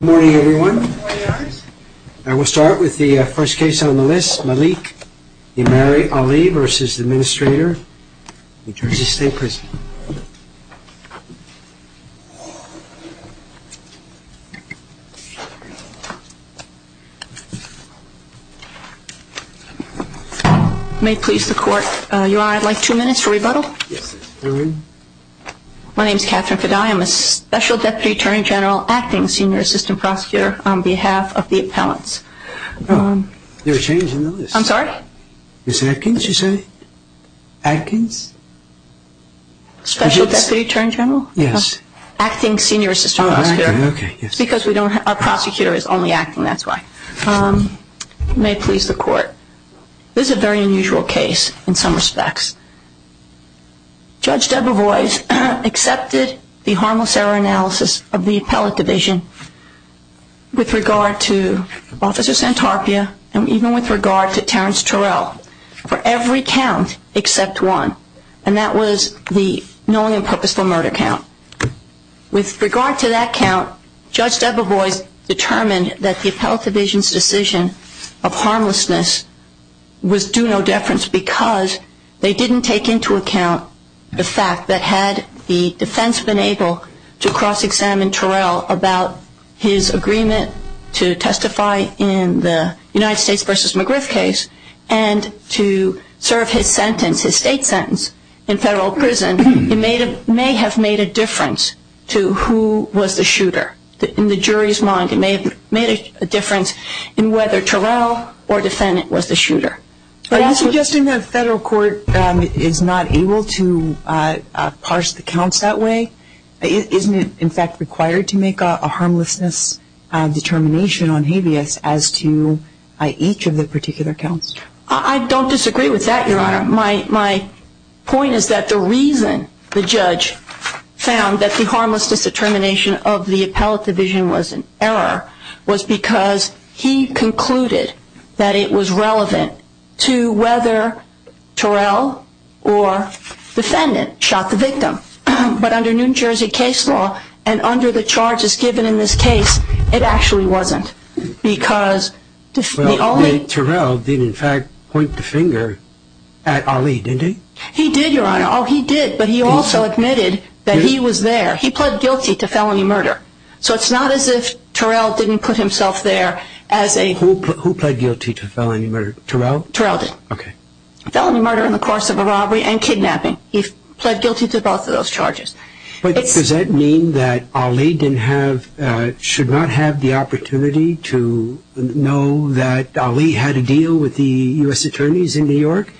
Good morning, everyone. I will start with the first case on the list, Malik Imari Ali v. Administrator NJ State Prison. May it please the Court, Your Honor, I'd like two minutes for rebuttal. My name is Kathryn Fadai. I'm a Special Deputy Attorney General acting Senior Assistant Prosecutor on behalf of the appellants. There's a change in the list. I'm sorry? Ms. Atkins, you said? Atkins? Special Deputy Attorney General? Yes. Acting Senior Assistant Prosecutor. Oh, okay. Because our prosecutor is only acting, that's why. Ms. Atkins, may it please the Court, this is a very unusual case in some respects. Judge Debevoise accepted the harmless error analysis of the appellate division with regard to Officer Santarpia and even with regard to Terrence Turrell for every count except one. And that was the knowing and purposeful murder count. With regard to that count, Judge Debevoise determined that the appellate division's decision of harmlessness was due no deference because they didn't take into account the fact that had the defense been able to cross-examine Turrell about his agreement to testify in the United States v. McGriff case and to serve his sentence, his state sentence, in federal prison, it may have made a difference to who was the shooter. In the jury's mind, it may have made a difference in whether Turrell or defendant was the shooter. Are you suggesting the federal court is not able to parse the counts that way? Isn't it, in fact, required to make a harmlessness determination on habeas as to each of the particular counts? I don't disagree with that, Your Honor. My point is that the reason the judge found that the harmlessness determination of the appellate division was an error was because he concluded that it was relevant to whether Turrell or defendant shot the victim. But under New Jersey case law and under the charges given in this case, it actually wasn't. Well, Turrell did, in fact, point the finger at Ali, didn't he? He did, Your Honor. Oh, he did. But he also admitted that he was there. He pled guilty to felony murder. So it's not as if Turrell didn't put himself there as a... Who pled guilty to felony murder? Turrell? Turrell did. Okay. Felony murder in the course of a robbery and kidnapping. He pled guilty to both of those charges. But does that mean that Ali should not have the opportunity to know that Ali had a deal with the U.S. attorneys in New York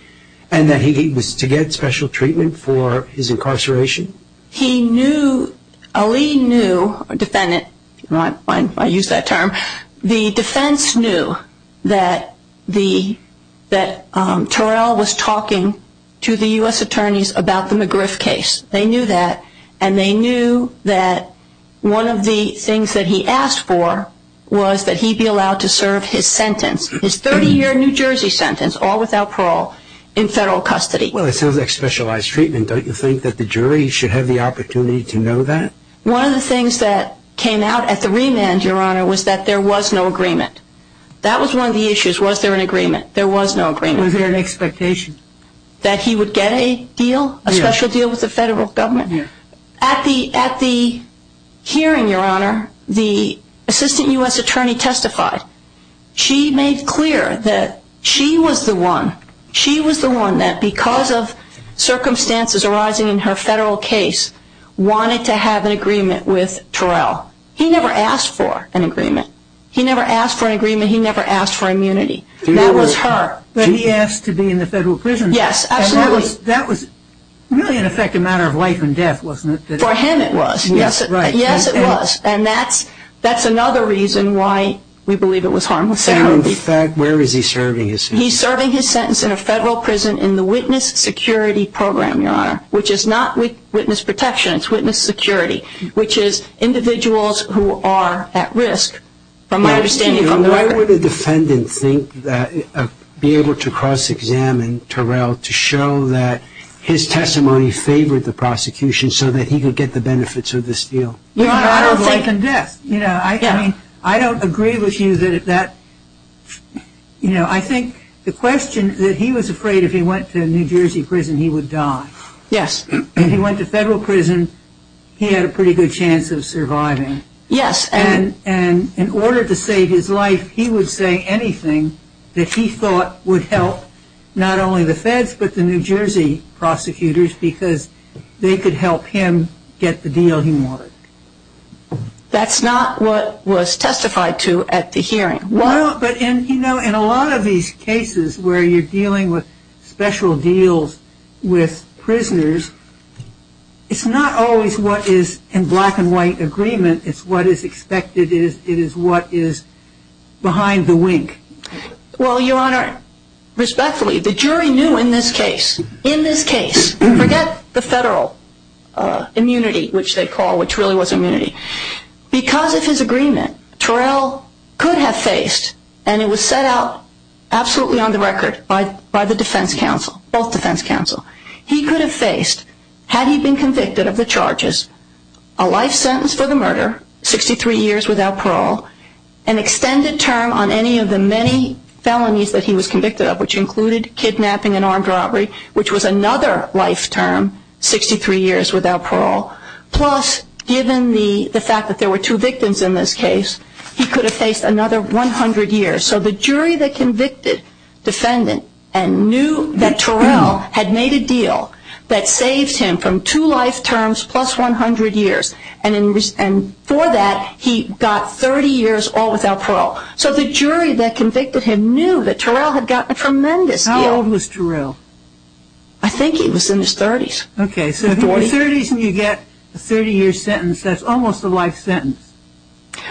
and that he was to get special treatment for his incarceration? He knew, Ali knew, defendant, I use that term, the defense knew that Turrell was talking to the U.S. attorneys about the McGriff case. They knew that and they knew that one of the things that he asked for was that he be allowed to serve his sentence, his 30-year New Jersey sentence, all without parole, in federal custody. Well, it sounds like specialized treatment. Don't you think that the jury should have the opportunity to know that? One of the things that came out at the remand, Your Honor, was that there was no agreement. That was one of the issues. Was there an agreement? There was no agreement. Was there an expectation? That he would get a deal, a special deal with the federal government? Yes. At the hearing, Your Honor, the assistant U.S. attorney testified. She made clear that she was the one, she was the one that because of circumstances arising in her federal case, wanted to have an agreement with Turrell. He never asked for an agreement. He never asked for an agreement. He never asked for immunity. That was her. But he asked to be in the federal prison. Yes, absolutely. That was really, in effect, a matter of life and death, wasn't it? For him it was. Yes, right. Yes, it was. And that's another reason why we believe it was harmless security. In fact, where is he serving his sentence? He's serving his sentence in a federal prison in the witness security program, Your Honor, which is not witness protection. It's witness security, which is individuals who are at risk, from my understanding, from the record. Why would a defendant think that, be able to cross-examine Turrell to show that his testimony favored the prosecution so that he could get the benefits of this deal? I don't think. It's a matter of life and death. I don't agree with you that, you know, I think the question that he was afraid if he went to New Jersey prison he would die. Yes. If he went to federal prison, he had a pretty good chance of surviving. Yes. And in order to save his life, he would say anything that he thought would help not only the feds but the New Jersey prosecutors because they could help him get the deal he wanted. That's not what was testified to at the hearing. But, you know, in a lot of these cases where you're dealing with special deals with prisoners, it's not always what is in black and white agreement. It's what is expected. It is what is behind the wink. Well, Your Honor, respectfully, the jury knew in this case, in this case, forget the federal immunity, which they call, which really was immunity. Because of his agreement, Turrell could have faced, and it was set out absolutely on the record by the defense counsel, both defense counsel, he could have faced, had he been convicted of the charges, a life sentence for the murder, 63 years without parole, an extended term on any of the many felonies that he was convicted of, which included kidnapping and armed robbery, which was another life term, 63 years without parole. Plus, given the fact that there were two victims in this case, he could have faced another 100 years. So the jury that convicted defendant and knew that Turrell had made a deal that saves him from two life terms plus 100 years, and for that, he got 30 years all without parole. So the jury that convicted him knew that Turrell had gotten a tremendous deal. How old was Turrell? I think he was in his 30s. Okay, so if you're in your 30s and you get a 30-year sentence, that's almost a life sentence.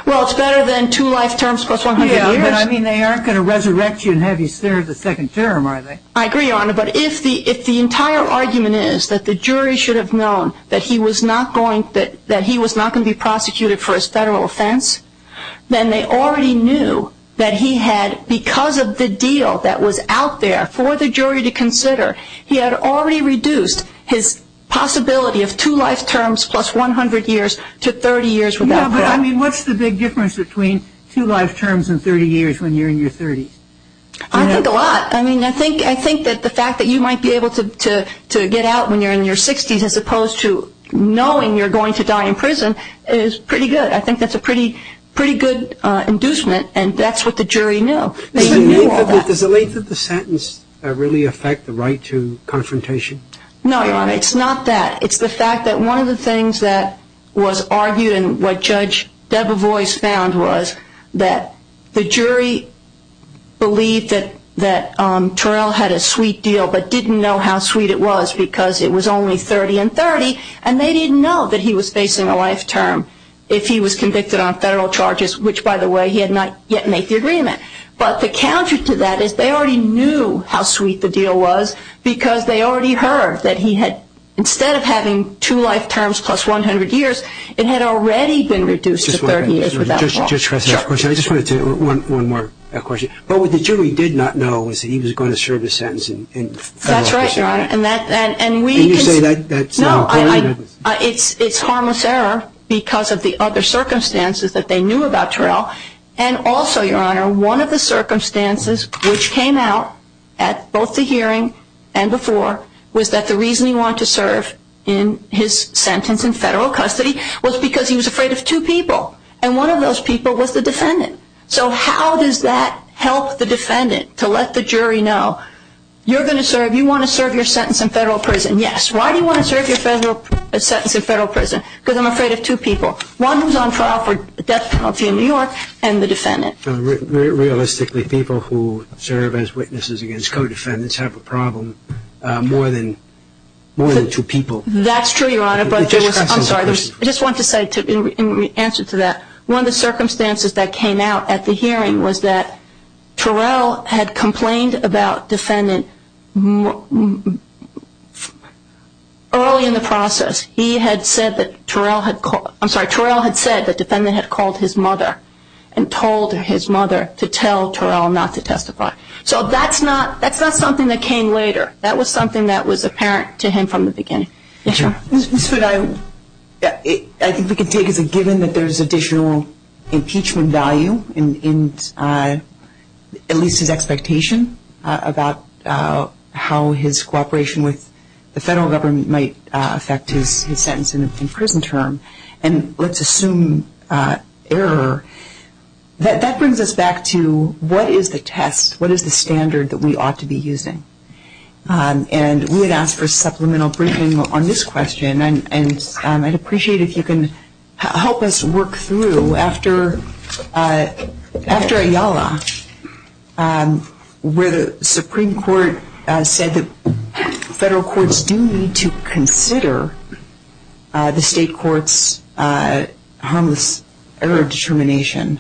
Well, it's better than two life terms plus 100 years. Yeah, but I mean, they aren't going to resurrect you and have you serve the second term, are they? I agree, Your Honor, but if the entire argument is that the jury should have known that he was not going to be prosecuted for his federal offense, then they already knew that he had, because of the deal that was out there for the jury to consider, he had already reduced his possibility of two life terms plus 100 years to 30 years without parole. Yeah, but I mean, what's the big difference between two life terms and 30 years when you're in your 30s? I think a lot. I mean, I think that the fact that you might be able to get out when you're in your 60s as opposed to knowing you're going to die in prison is pretty good. I think that's a pretty good inducement, and that's what the jury knew. Does the length of the sentence really affect the right to confrontation? No, Your Honor, it's not that. It's the fact that one of the things that was argued and what Judge Debevoise found was that the jury believed that Terrell had a sweet deal but didn't know how sweet it was because it was only 30 and 30, and they didn't know that he was facing a life term if he was convicted on federal charges, which, by the way, he had not yet made the agreement. But the counter to that is they already knew how sweet the deal was because they already heard that he had, instead of having two life terms plus 100 years, it had already been reduced to 30 years without parole. Just to address that question, I just wanted to, one more question. What the jury did not know was that he was going to serve a sentence in federal office. That's right, Your Honor. Can you say that? No, it's harmless error because of the other circumstances that they knew about Terrell. And also, Your Honor, one of the circumstances which came out at both the hearing and before was that the reason he wanted to serve in his sentence in federal custody was because he was afraid of two people, and one of those people was the defendant. So how does that help the defendant to let the jury know, you're going to serve, you want to serve your sentence in federal prison, yes. Why do you want to serve your sentence in federal prison? Because I'm afraid of two people, one who's on trial for death penalty in New York and the defendant. Realistically, people who serve as witnesses against co-defendants have a problem more than two people. That's true, Your Honor. I'm sorry. I just want to say in answer to that, one of the circumstances that came out at the hearing was that Terrell had complained about defendant early in the process. He had said that Terrell had called, I'm sorry, Terrell had said that defendant had called his mother and told his mother to tell Terrell not to testify. So that's not something that came later. That was something that was apparent to him from the beginning. Yes, Your Honor. Ms. Food, I think we can take as a given that there's additional impeachment value in at least his expectation about how his cooperation with the federal government might affect his sentence in prison term. And let's assume error. That brings us back to what is the test, what is the standard that we ought to be using? And we had asked for a supplemental briefing on this question, and I'd appreciate if you can help us work through. After Ayala, where the Supreme Court said that federal courts do need to consider the state court's harmless error determination,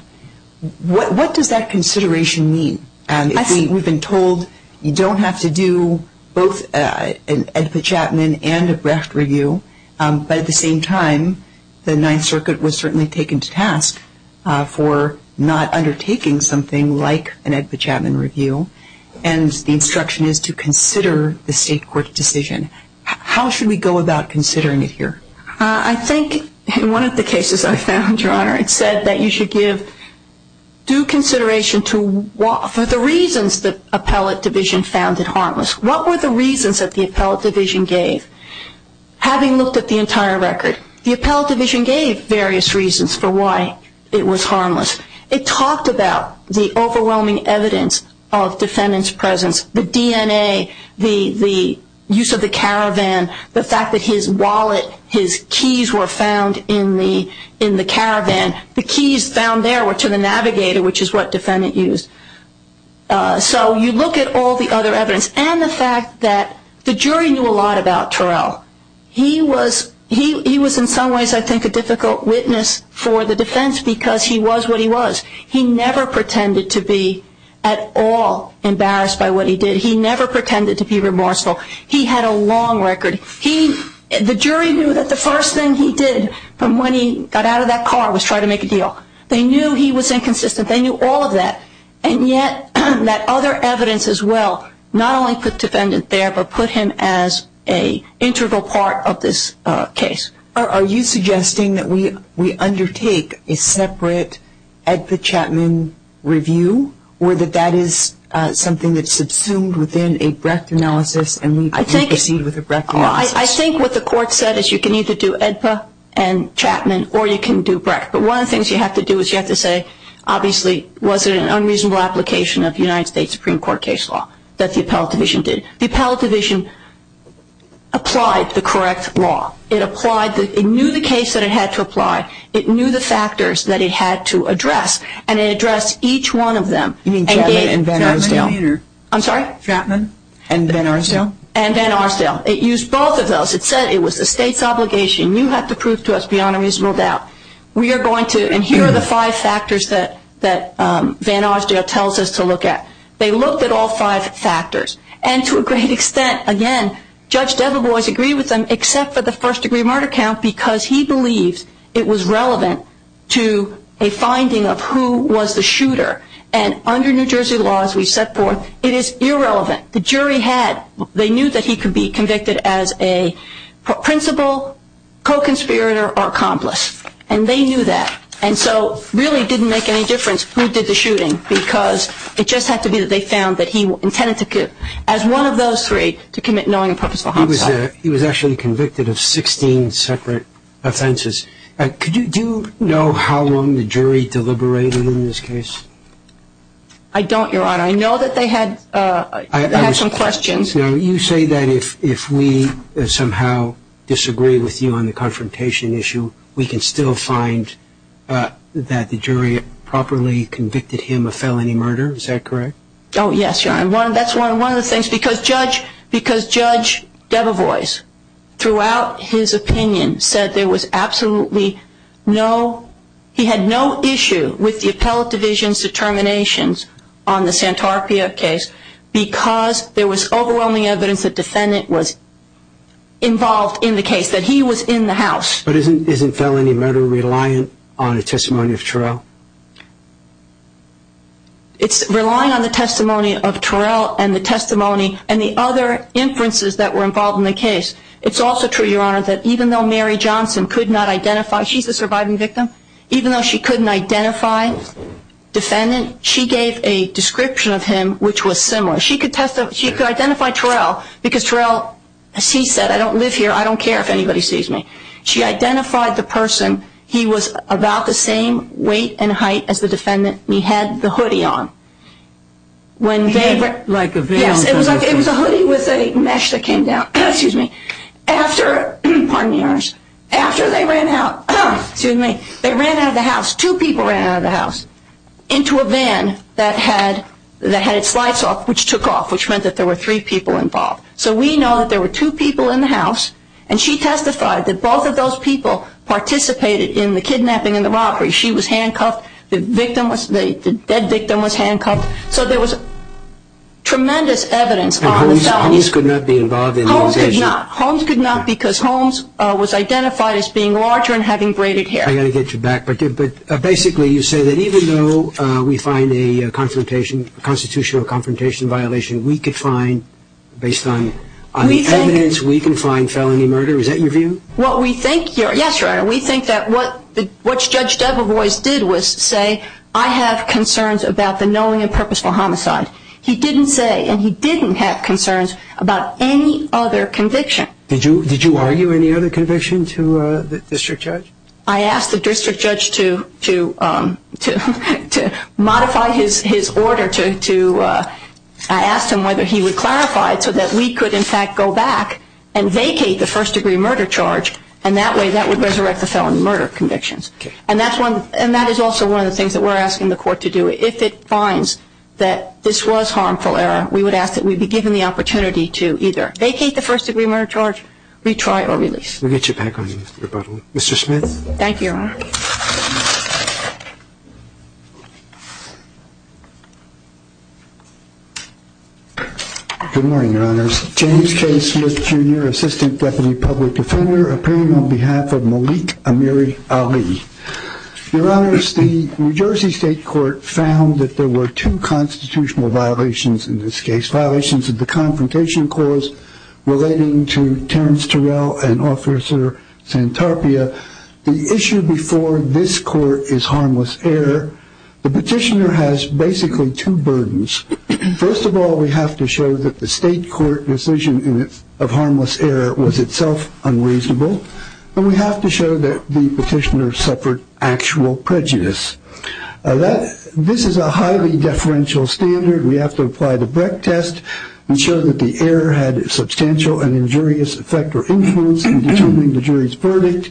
what does that consideration mean? And we've been told you don't have to do both an Edput-Chapman and a Brecht review. But at the same time, the Ninth Circuit was certainly taken to task for not undertaking something like an Edput-Chapman review. And the instruction is to consider the state court's decision. How should we go about considering it here? I think in one of the cases I found, Your Honor, it said that you should give due consideration to the reasons the appellate division found it harmless. What were the reasons that the appellate division gave? Having looked at the entire record, the appellate division gave various reasons for why it was harmless. It talked about the overwhelming evidence of defendant's presence, the DNA, the use of the caravan, the fact that his wallet, his keys were found in the caravan. The keys found there were to the navigator, which is what defendant used. So you look at all the other evidence, and the fact that the jury knew a lot about Terrell. He was in some ways, I think, a difficult witness for the defense because he was what he was. He never pretended to be at all embarrassed by what he did. He never pretended to be remorseful. He had a long record. The jury knew that the first thing he did from when he got out of that car was try to make a deal. They knew he was inconsistent. They knew all of that. And yet, that other evidence as well, not only put defendant there, but put him as an integral part of this case. Are you suggesting that we undertake a separate AEDPA-Chapman review, or that that is something that's subsumed within a Brecht analysis and we proceed with a Brecht analysis? I think what the court said is you can either do AEDPA and Chapman, or you can do Brecht. But one of the things you have to do is you have to say, obviously, was it an unreasonable application of United States Supreme Court case law that the appellate division did? The appellate division applied the correct law. It knew the case that it had to apply. It knew the factors that it had to address, and it addressed each one of them. You mean Chapman and Van Arsdale? I'm sorry? Chapman and Van Arsdale? And Van Arsdale. It used both of those. It said it was the state's obligation. You have to prove to us beyond a reasonable doubt. We are going to, and here are the five factors that Van Arsdale tells us to look at. They looked at all five factors. And to a great extent, again, Judge Deveboise agreed with them, except for the first-degree murder count, because he believes it was relevant to a finding of who was the shooter. And under New Jersey law, as we've set forth, it is irrelevant. The jury had, they knew that he could be convicted as a principal, co-conspirator, or accomplice. And they knew that. And so it really didn't make any difference who did the shooting, because it just had to be that they found that he intended to, as one of those three, to commit knowing and purposeful homicide. He was actually convicted of 16 separate offenses. Do you know how long the jury deliberated in this case? I don't, Your Honor. I know that they had some questions. You say that if we somehow disagree with you on the confrontation issue, we can still find that the jury properly convicted him of felony murder. Is that correct? Oh, yes, Your Honor. That's one of the things, because Judge Deveboise, throughout his opinion, said there was absolutely no, he had no issue with the appellate division's determinations on the Santarpia case because there was overwhelming evidence that the defendant was involved in the case, that he was in the house. But isn't felony murder reliant on the testimony of Terrell? It's relying on the testimony of Terrell and the testimony and the other inferences that were involved in the case. It's also true, Your Honor, that even though Mary Johnson could not identify, she's the surviving victim, even though she couldn't identify the defendant, she gave a description of him which was similar. She could identify Terrell because Terrell, as she said, I don't live here, I don't care if anybody sees me. She identified the person. He was about the same weight and height as the defendant. He had the hoodie on. Like a veil. It was a hoodie with a mesh that came down. After they ran out of the house, two people ran out of the house into a van that had its lights off, which took off, which meant that there were three people involved. So we know that there were two people in the house, and she testified that both of those people participated in the kidnapping and the robbery. She was handcuffed, the victim was, the dead victim was handcuffed. So there was tremendous evidence on the felonies. And Holmes could not be involved in the investigation? Holmes could not. Holmes could not because Holmes was identified as being larger and having braided hair. I've got to get you back. But basically you say that even though we find a constitutional confrontation violation, we could find, based on the evidence, we can find felony murder. Is that your view? Well, we think, yes, Your Honor. We think that what Judge Debevoise did was say, I have concerns about the knowing and purposeful homicide. He didn't say, and he didn't have concerns about any other conviction. Did you argue any other conviction to the district judge? I asked the district judge to modify his order to, I asked him whether he would clarify it so that we could, in fact, go back and vacate the first-degree murder charge, and that way that would resurrect the felony murder convictions. And that is also one of the things that we're asking the court to do. If it finds that this was harmful error, we would ask that we be given the opportunity to either vacate the first-degree murder charge, retry, or release. We'll get you back on your rebuttal. Mr. Smith? Thank you, Your Honor. Good morning, Your Honors. James K. Smith, Jr., Assistant Deputy Public Defender, appearing on behalf of Malik Amiri Ali. Your Honors, the New Jersey State Court found that there were two constitutional violations in this case, violations of the Confrontation Clause relating to Terrence Terrell and Officer Santarpia. The issue before this court is harmless error. The petitioner has basically two burdens. First of all, we have to show that the state court decision of harmless error was itself unreasonable, and we have to show that the petitioner suffered actual prejudice. This is a highly deferential standard. We have to apply the Brecht test and show that the error had substantial and injurious effect or influence in determining the jury's verdict.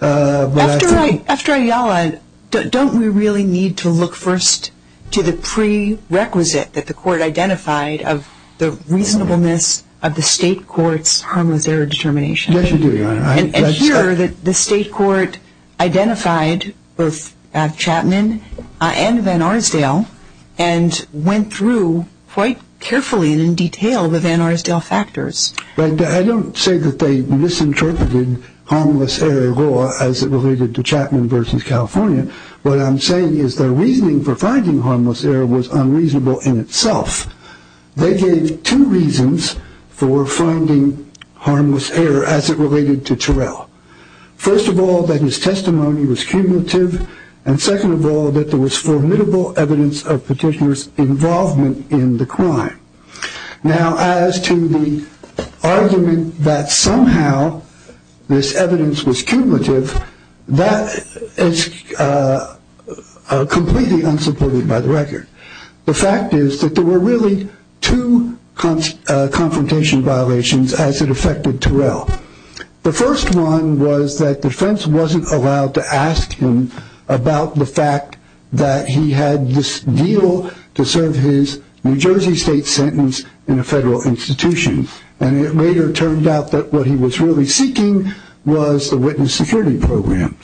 After Ayala, don't we really need to look first to the prerequisite that the court identified of the reasonableness of the state court's harmless error determination? Yes, you do, Your Honor. And here, the state court identified both Chapman and Van Arsdale and went through quite carefully and in detail the Van Arsdale factors. I don't say that they misinterpreted harmless error law as it related to Chapman v. California. What I'm saying is their reasoning for finding harmless error was unreasonable in itself. They gave two reasons for finding harmless error as it related to Terrell. First of all, that his testimony was cumulative, and second of all, that there was formidable evidence of petitioner's involvement in the crime. Now, as to the argument that somehow this evidence was cumulative, that is completely unsupported by the record. The fact is that there were really two confrontation violations as it affected Terrell. The first one was that defense wasn't allowed to ask him about the fact that he had this deal to serve his New Jersey state sentence in a federal institution, and it later turned out that what he was really seeking was the witness security program.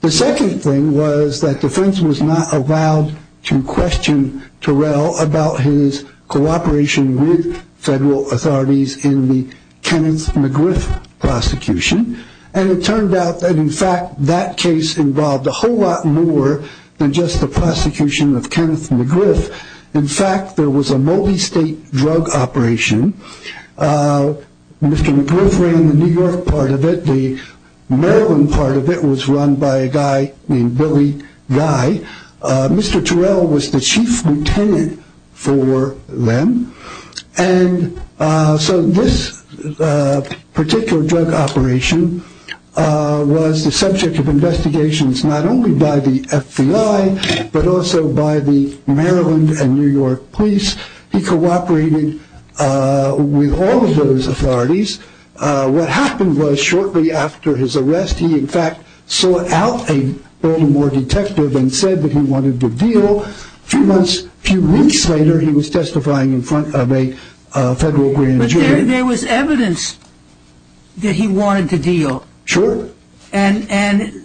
The second thing was that defense was not allowed to question Terrell about his cooperation with federal authorities in the Kenneth McGriff prosecution, and it turned out that, in fact, that case involved a whole lot more than just the prosecution of Kenneth McGriff. In fact, there was a multi-state drug operation. Mr. McGriff ran the New York part of it. The Maryland part of it was run by a guy named Billy Guy. Mr. Terrell was the chief lieutenant for them. So this particular drug operation was the subject of investigations not only by the FBI, but also by the Maryland and New York police. He cooperated with all of those authorities. What happened was shortly after his arrest, he in fact sought out a Baltimore detective and said that he wanted the deal. So a few months, a few weeks later, he was testifying in front of a federal jury. But there was evidence that he wanted the deal. Sure. And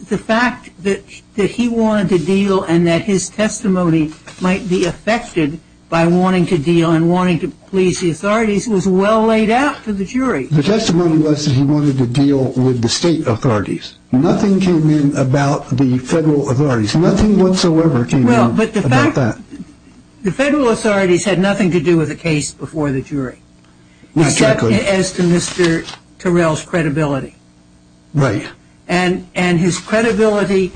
the fact that he wanted the deal and that his testimony might be affected by wanting to deal and wanting to please the authorities was well laid out to the jury. The testimony was that he wanted to deal with the state authorities. Nothing came in about the federal authorities. Nothing whatsoever came in about that. The federal authorities had nothing to do with the case before the jury. Except as to Mr. Terrell's credibility. Right. And his credibility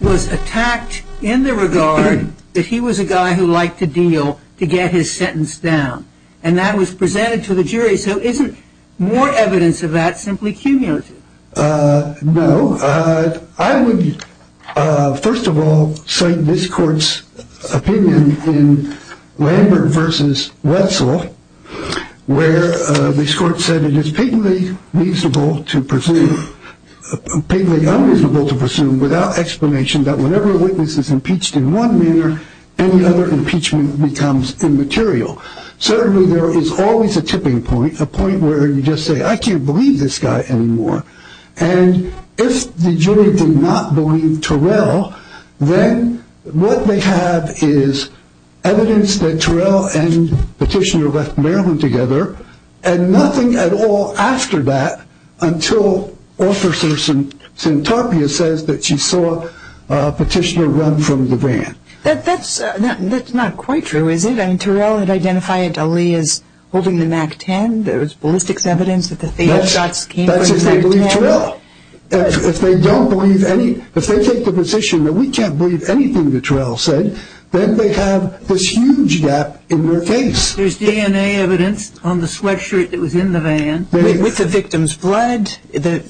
was attacked in the regard that he was a guy who liked to deal to get his sentence down. And that was presented to the jury. So isn't more evidence of that simply cumulative? No. I would, first of all, cite this court's opinion in Lambert v. Wetzel, where this court said it is patently unreasonable to presume without explanation that whenever a witness is impeached in one manner, any other impeachment becomes immaterial. Certainly there is always a tipping point, a point where you just say, I can't believe this guy anymore. And if the jury did not believe Terrell, then what they have is evidence that Terrell and Petitioner left Maryland together and nothing at all after that until Officer Santarpia says that she saw Petitioner run from the van. That's not quite true, is it? I mean, Terrell had identified Ali as holding the MAC-10. That's if they believe Terrell. If they take the position that we can't believe anything that Terrell said, then they have this huge gap in their case. There's DNA evidence on the sweatshirt that was in the van with the victim's blood. The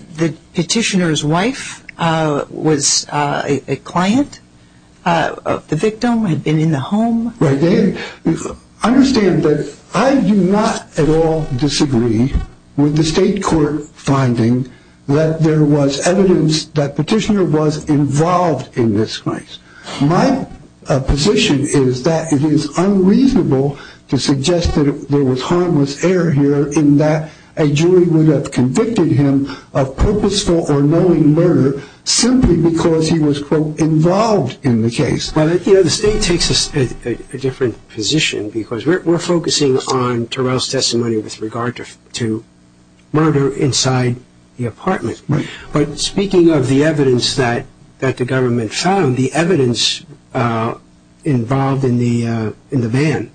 Petitioner's wife was a client of the victim, had been in the home. Understand that I do not at all disagree with the state court finding that there was evidence that Petitioner was involved in this case. My position is that it is unreasonable to suggest that there was harmless error here in that a jury would have convicted him of purposeful or knowing murder simply because he was, quote, involved in the case. Well, you know, the state takes a different position because we're focusing on Terrell's testimony with regard to murder inside the apartment. But speaking of the evidence that the government found, the evidence involved in the van,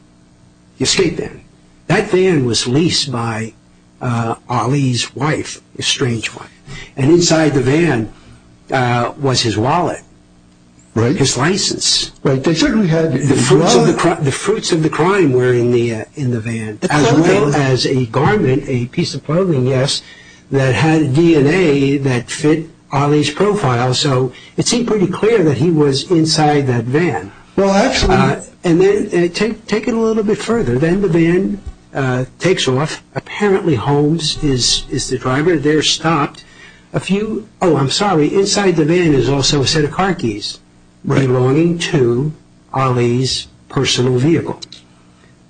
the escape van, that van was leased by Ali's wife, estranged wife, and inside the van was his wallet, his license. The fruits of the crime were in the van, as well as a garment, a piece of clothing, yes, that had DNA that fit Ali's profile, so it seemed pretty clear that he was inside that van. Well, absolutely. And then take it a little bit further. Then the van takes off, apparently Holmes is the driver. There stopped a few, oh, I'm sorry, inside the van is also a set of car keys belonging to Ali's personal vehicle.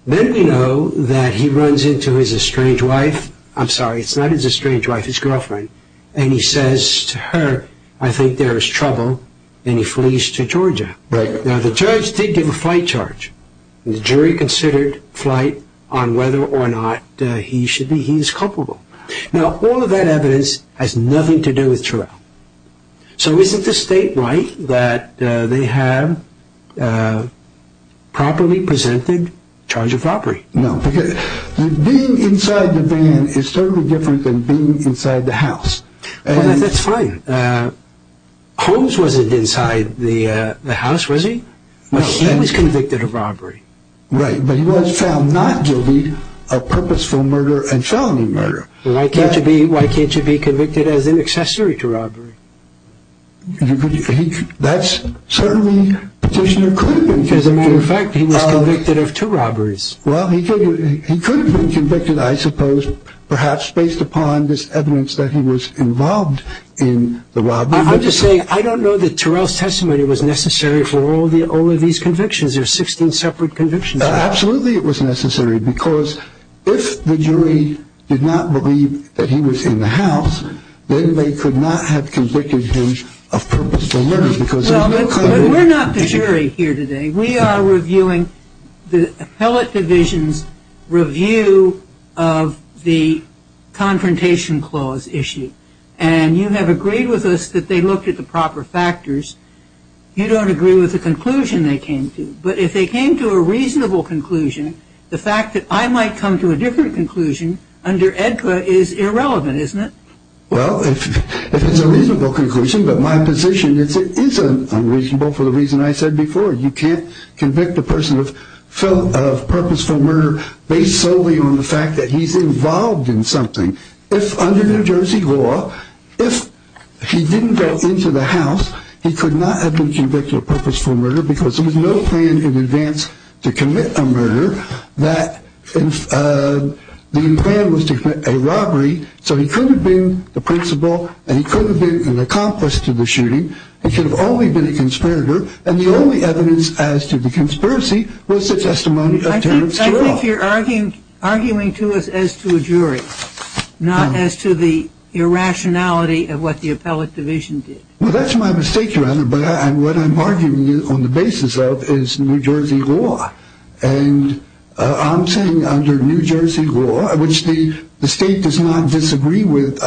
Then we know that he runs into his estranged wife, I'm sorry, it's not his estranged wife, his girlfriend, and he says to her, I think there is trouble, and he flees to Georgia. Now, the judge did give a flight charge. The jury considered flight on whether or not he should be, he is culpable. Now, all of that evidence has nothing to do with Turell. So isn't the state right that they have properly presented charge of robbery? No, because being inside the van is totally different than being inside the house. Well, that's fine. Holmes wasn't inside the house, was he? He was convicted of robbery. Right, but he was found not guilty of purposeful murder and felony murder. Why can't you be convicted as an accessory to robbery? That's certainly, the petitioner could have been. As a matter of fact, he was convicted of two robberies. Well, he could have been convicted, I suppose, perhaps based upon this evidence that he was involved in the robbery. I'm just saying, I don't know that Turell's testimony was necessary for all of these convictions. There were 16 separate convictions. Absolutely it was necessary, because if the jury did not believe that he was in the house, then they could not have convicted him of purposeful murder. Well, we're not the jury here today. We are reviewing the appellate division's review of the confrontation clause issue. And you have agreed with us that they looked at the proper factors. You don't agree with the conclusion they came to. But if they came to a reasonable conclusion, the fact that I might come to a different conclusion under EDCA is irrelevant, isn't it? Well, if it's a reasonable conclusion, but my position is it is unreasonable for the reason I said before. You can't convict a person of purposeful murder based solely on the fact that he's involved in something. If under New Jersey law, if he didn't go into the house, he could not have been convicted of purposeful murder because there was no plan in advance to commit a murder. The plan was to commit a robbery, so he could have been the principal, and he could have been an accomplice to the shooting. He could have only been a conspirator. And the only evidence as to the conspiracy was the testimony of Terrence Giroir. I think you're arguing to us as to a jury, not as to the irrationality of what the appellate division did. Well, that's my mistake, Your Honor, but what I'm arguing on the basis of is New Jersey law. And I'm saying under New Jersey law, which the state does not disagree with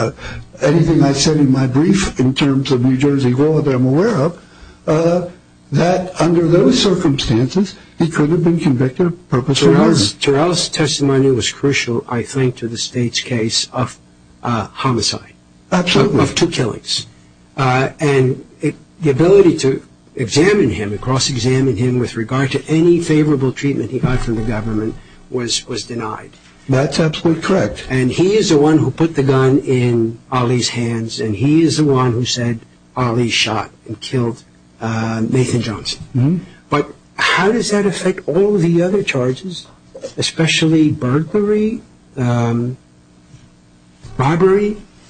anything I said in my brief in terms of New Jersey law that I'm aware of, that under those circumstances, he could have been convicted of purposeful murder. Giroir's testimony was crucial, I think, to the state's case of homicide. Absolutely. Of two killings. And the ability to examine him, cross-examine him with regard to any favorable treatment he got from the government was denied. That's absolutely correct. And he is the one who put the gun in Ali's hands, and he is the one who said Ali shot and killed Nathan Johnson. But how does that affect all the other charges, especially burglary, robbery?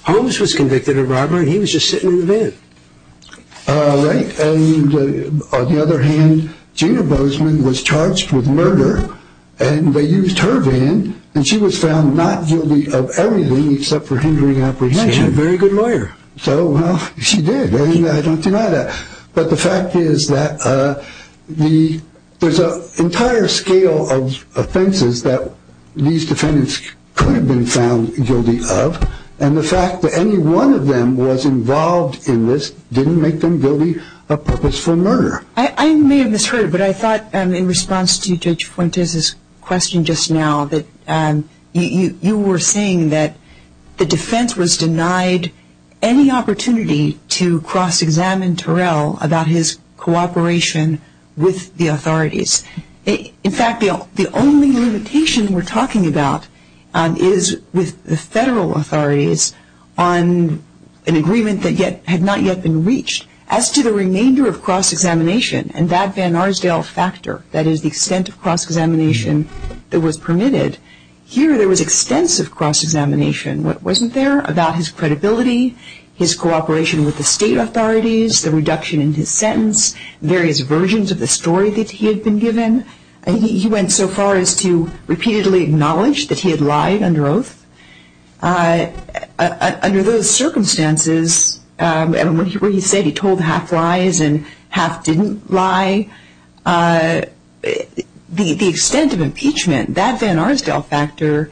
Holmes was convicted of robbery, and he was just sitting in the van. Right. And on the other hand, Gina Bozeman was charged with murder, and they used her van, and she was found not guilty of everything except for hindering apprehension. She had a very good lawyer. So, well, she did, and I don't deny that. But the fact is that there's an entire scale of offenses that these defendants could have been found guilty of, and the fact that any one of them was involved in this didn't make them guilty of purposeful murder. I may have misheard, but I thought, in response to Judge Fuentes' question just now, that you were saying that the defense was denied any opportunity to cross-examine Terrell about his cooperation with the authorities. In fact, the only limitation we're talking about is with the federal authorities on an agreement that had not yet been reached. As to the remainder of cross-examination and that Vanarsdale factor, that is the extent of cross-examination that was permitted, here there was extensive cross-examination. What wasn't there? About his credibility, his cooperation with the state authorities, the reduction in his sentence, various versions of the story that he had been given. He went so far as to repeatedly acknowledge that he had lied under oath. Under those circumstances, where he said he told half lies and half didn't lie, the extent of impeachment, that Vanarsdale factor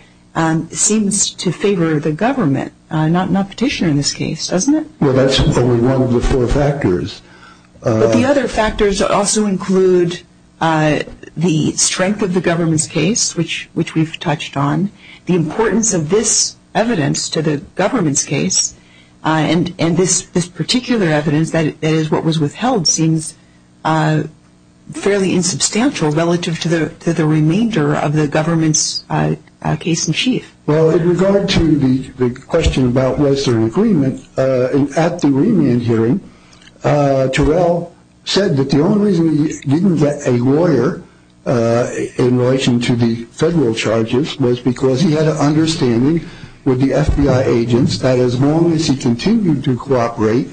seems to favor the government, not Petitioner in this case, doesn't it? Well, that's only one of the four factors. But the other factors also include the strength of the government's case, which we've touched on, the importance of this evidence to the government's case, and this particular evidence, that is what was withheld, seems fairly insubstantial relative to the remainder of the government's case in chief. Well, in regard to the question about was there an agreement, at the remand hearing, Terrell said that the only reason he didn't get a lawyer in relation to the federal charges was because he had an understanding with the FBI agents that as long as he continued to cooperate,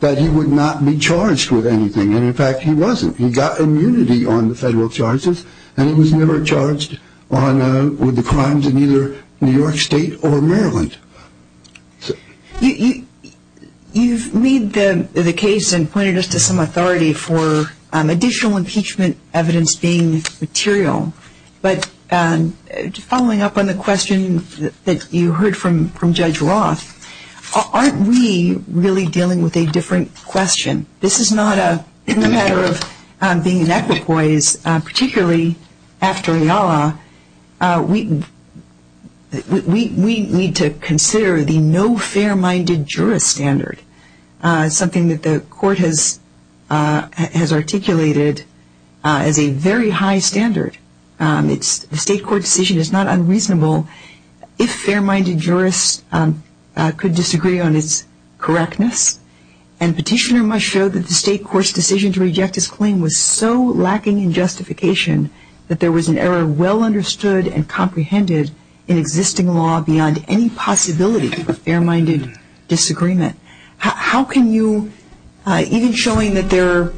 that he would not be charged with anything, and in fact he wasn't. He got immunity on the federal charges and he was never charged with the crimes in either New York State or Maryland. You've made the case and pointed us to some authority for additional impeachment evidence being material, but following up on the question that you heard from Judge Roth, aren't we really dealing with a different question? This is not a matter of being inequipoise, particularly after IALA, we need to consider the no fair-minded jurist standard, something that the court has articulated as a very high standard. The state court decision is not unreasonable if fair-minded jurists could disagree on its correctness, and Petitioner must show that the state court's decision to reject his claim was so lacking in justification that there was an error well understood and comprehended in existing law beyond any possibility of a fair-minded disagreement. How can you, even showing that their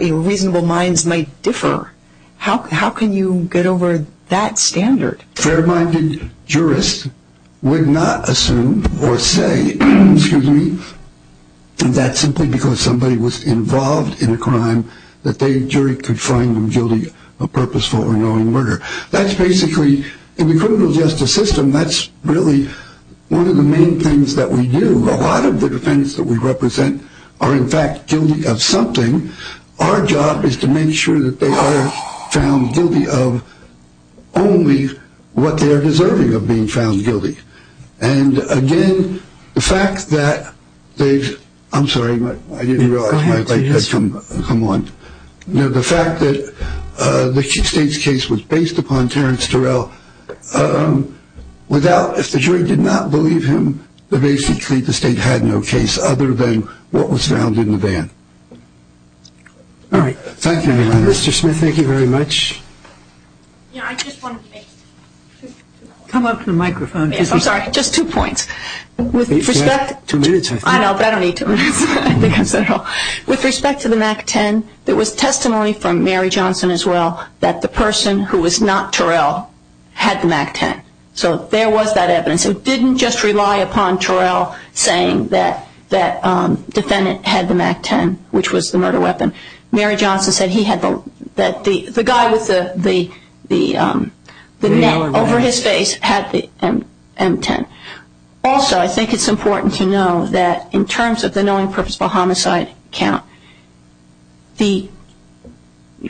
reasonable minds might differ, how can you get over that standard? Fair-minded jurists would not assume or say that simply because somebody was involved in a crime that the jury could find them guilty of purposeful or annoying murder. That's basically, in the criminal justice system, that's really one of the main things that we do. A lot of the defendants that we represent are in fact guilty of something. Our job is to make sure that they are found guilty of only what they are deserving of being found guilty. And again, the fact that they've, I'm sorry, I didn't realize my light had come on. The fact that the state's case was based upon Terence Turrell, without, if the jury did not believe him, that basically the state had no case other than what was found in the van. All right. Thank you, Mr. Smith. Thank you very much. Come up to the microphone. I'm sorry. Just two points. Two minutes, I think. I know, but I don't need two minutes. With respect to the MAC-10, there was testimony from Mary Johnson as well that the person who was not Turrell had the MAC-10. So there was that evidence. It didn't just rely upon Turrell saying that the defendant had the MAC-10, which was the murder weapon. Mary Johnson said he had the, the guy with the net over his face had the M-10. Also, I think it's important to know that in terms of the knowing purposeful homicide count, the,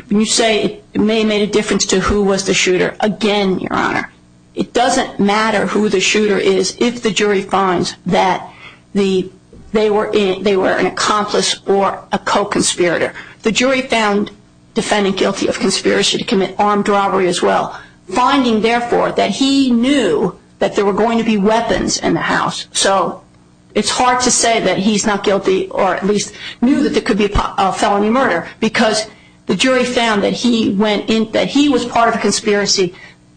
when you say it may have made a difference to who was the shooter, again, Your Honor, it doesn't matter who the shooter is if the jury finds that they were an accomplice or a co-conspirator. The jury found defendant guilty of conspiracy to commit armed robbery as well, finding, therefore, that he knew that there were going to be weapons in the house. So it's hard to say that he's not guilty or at least knew that there could be a felony murder because the jury found that he went in, that he was part of a conspiracy,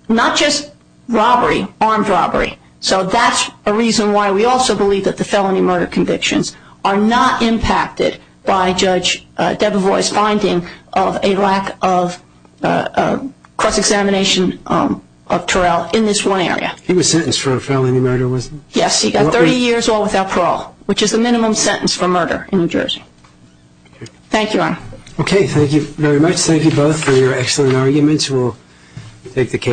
not just robbery, armed robbery. So that's a reason why we also believe that the felony murder convictions are not impacted by Judge Debevois' finding of a lack of cross-examination of Turrell in this one area. He was sentenced for a felony murder, wasn't he? Yes, he got 30 years or without parole, which is the minimum sentence for murder in New Jersey. Thank you, Your Honor. Okay, thank you very much. Thank you both for your excellent arguments. We'll take the case.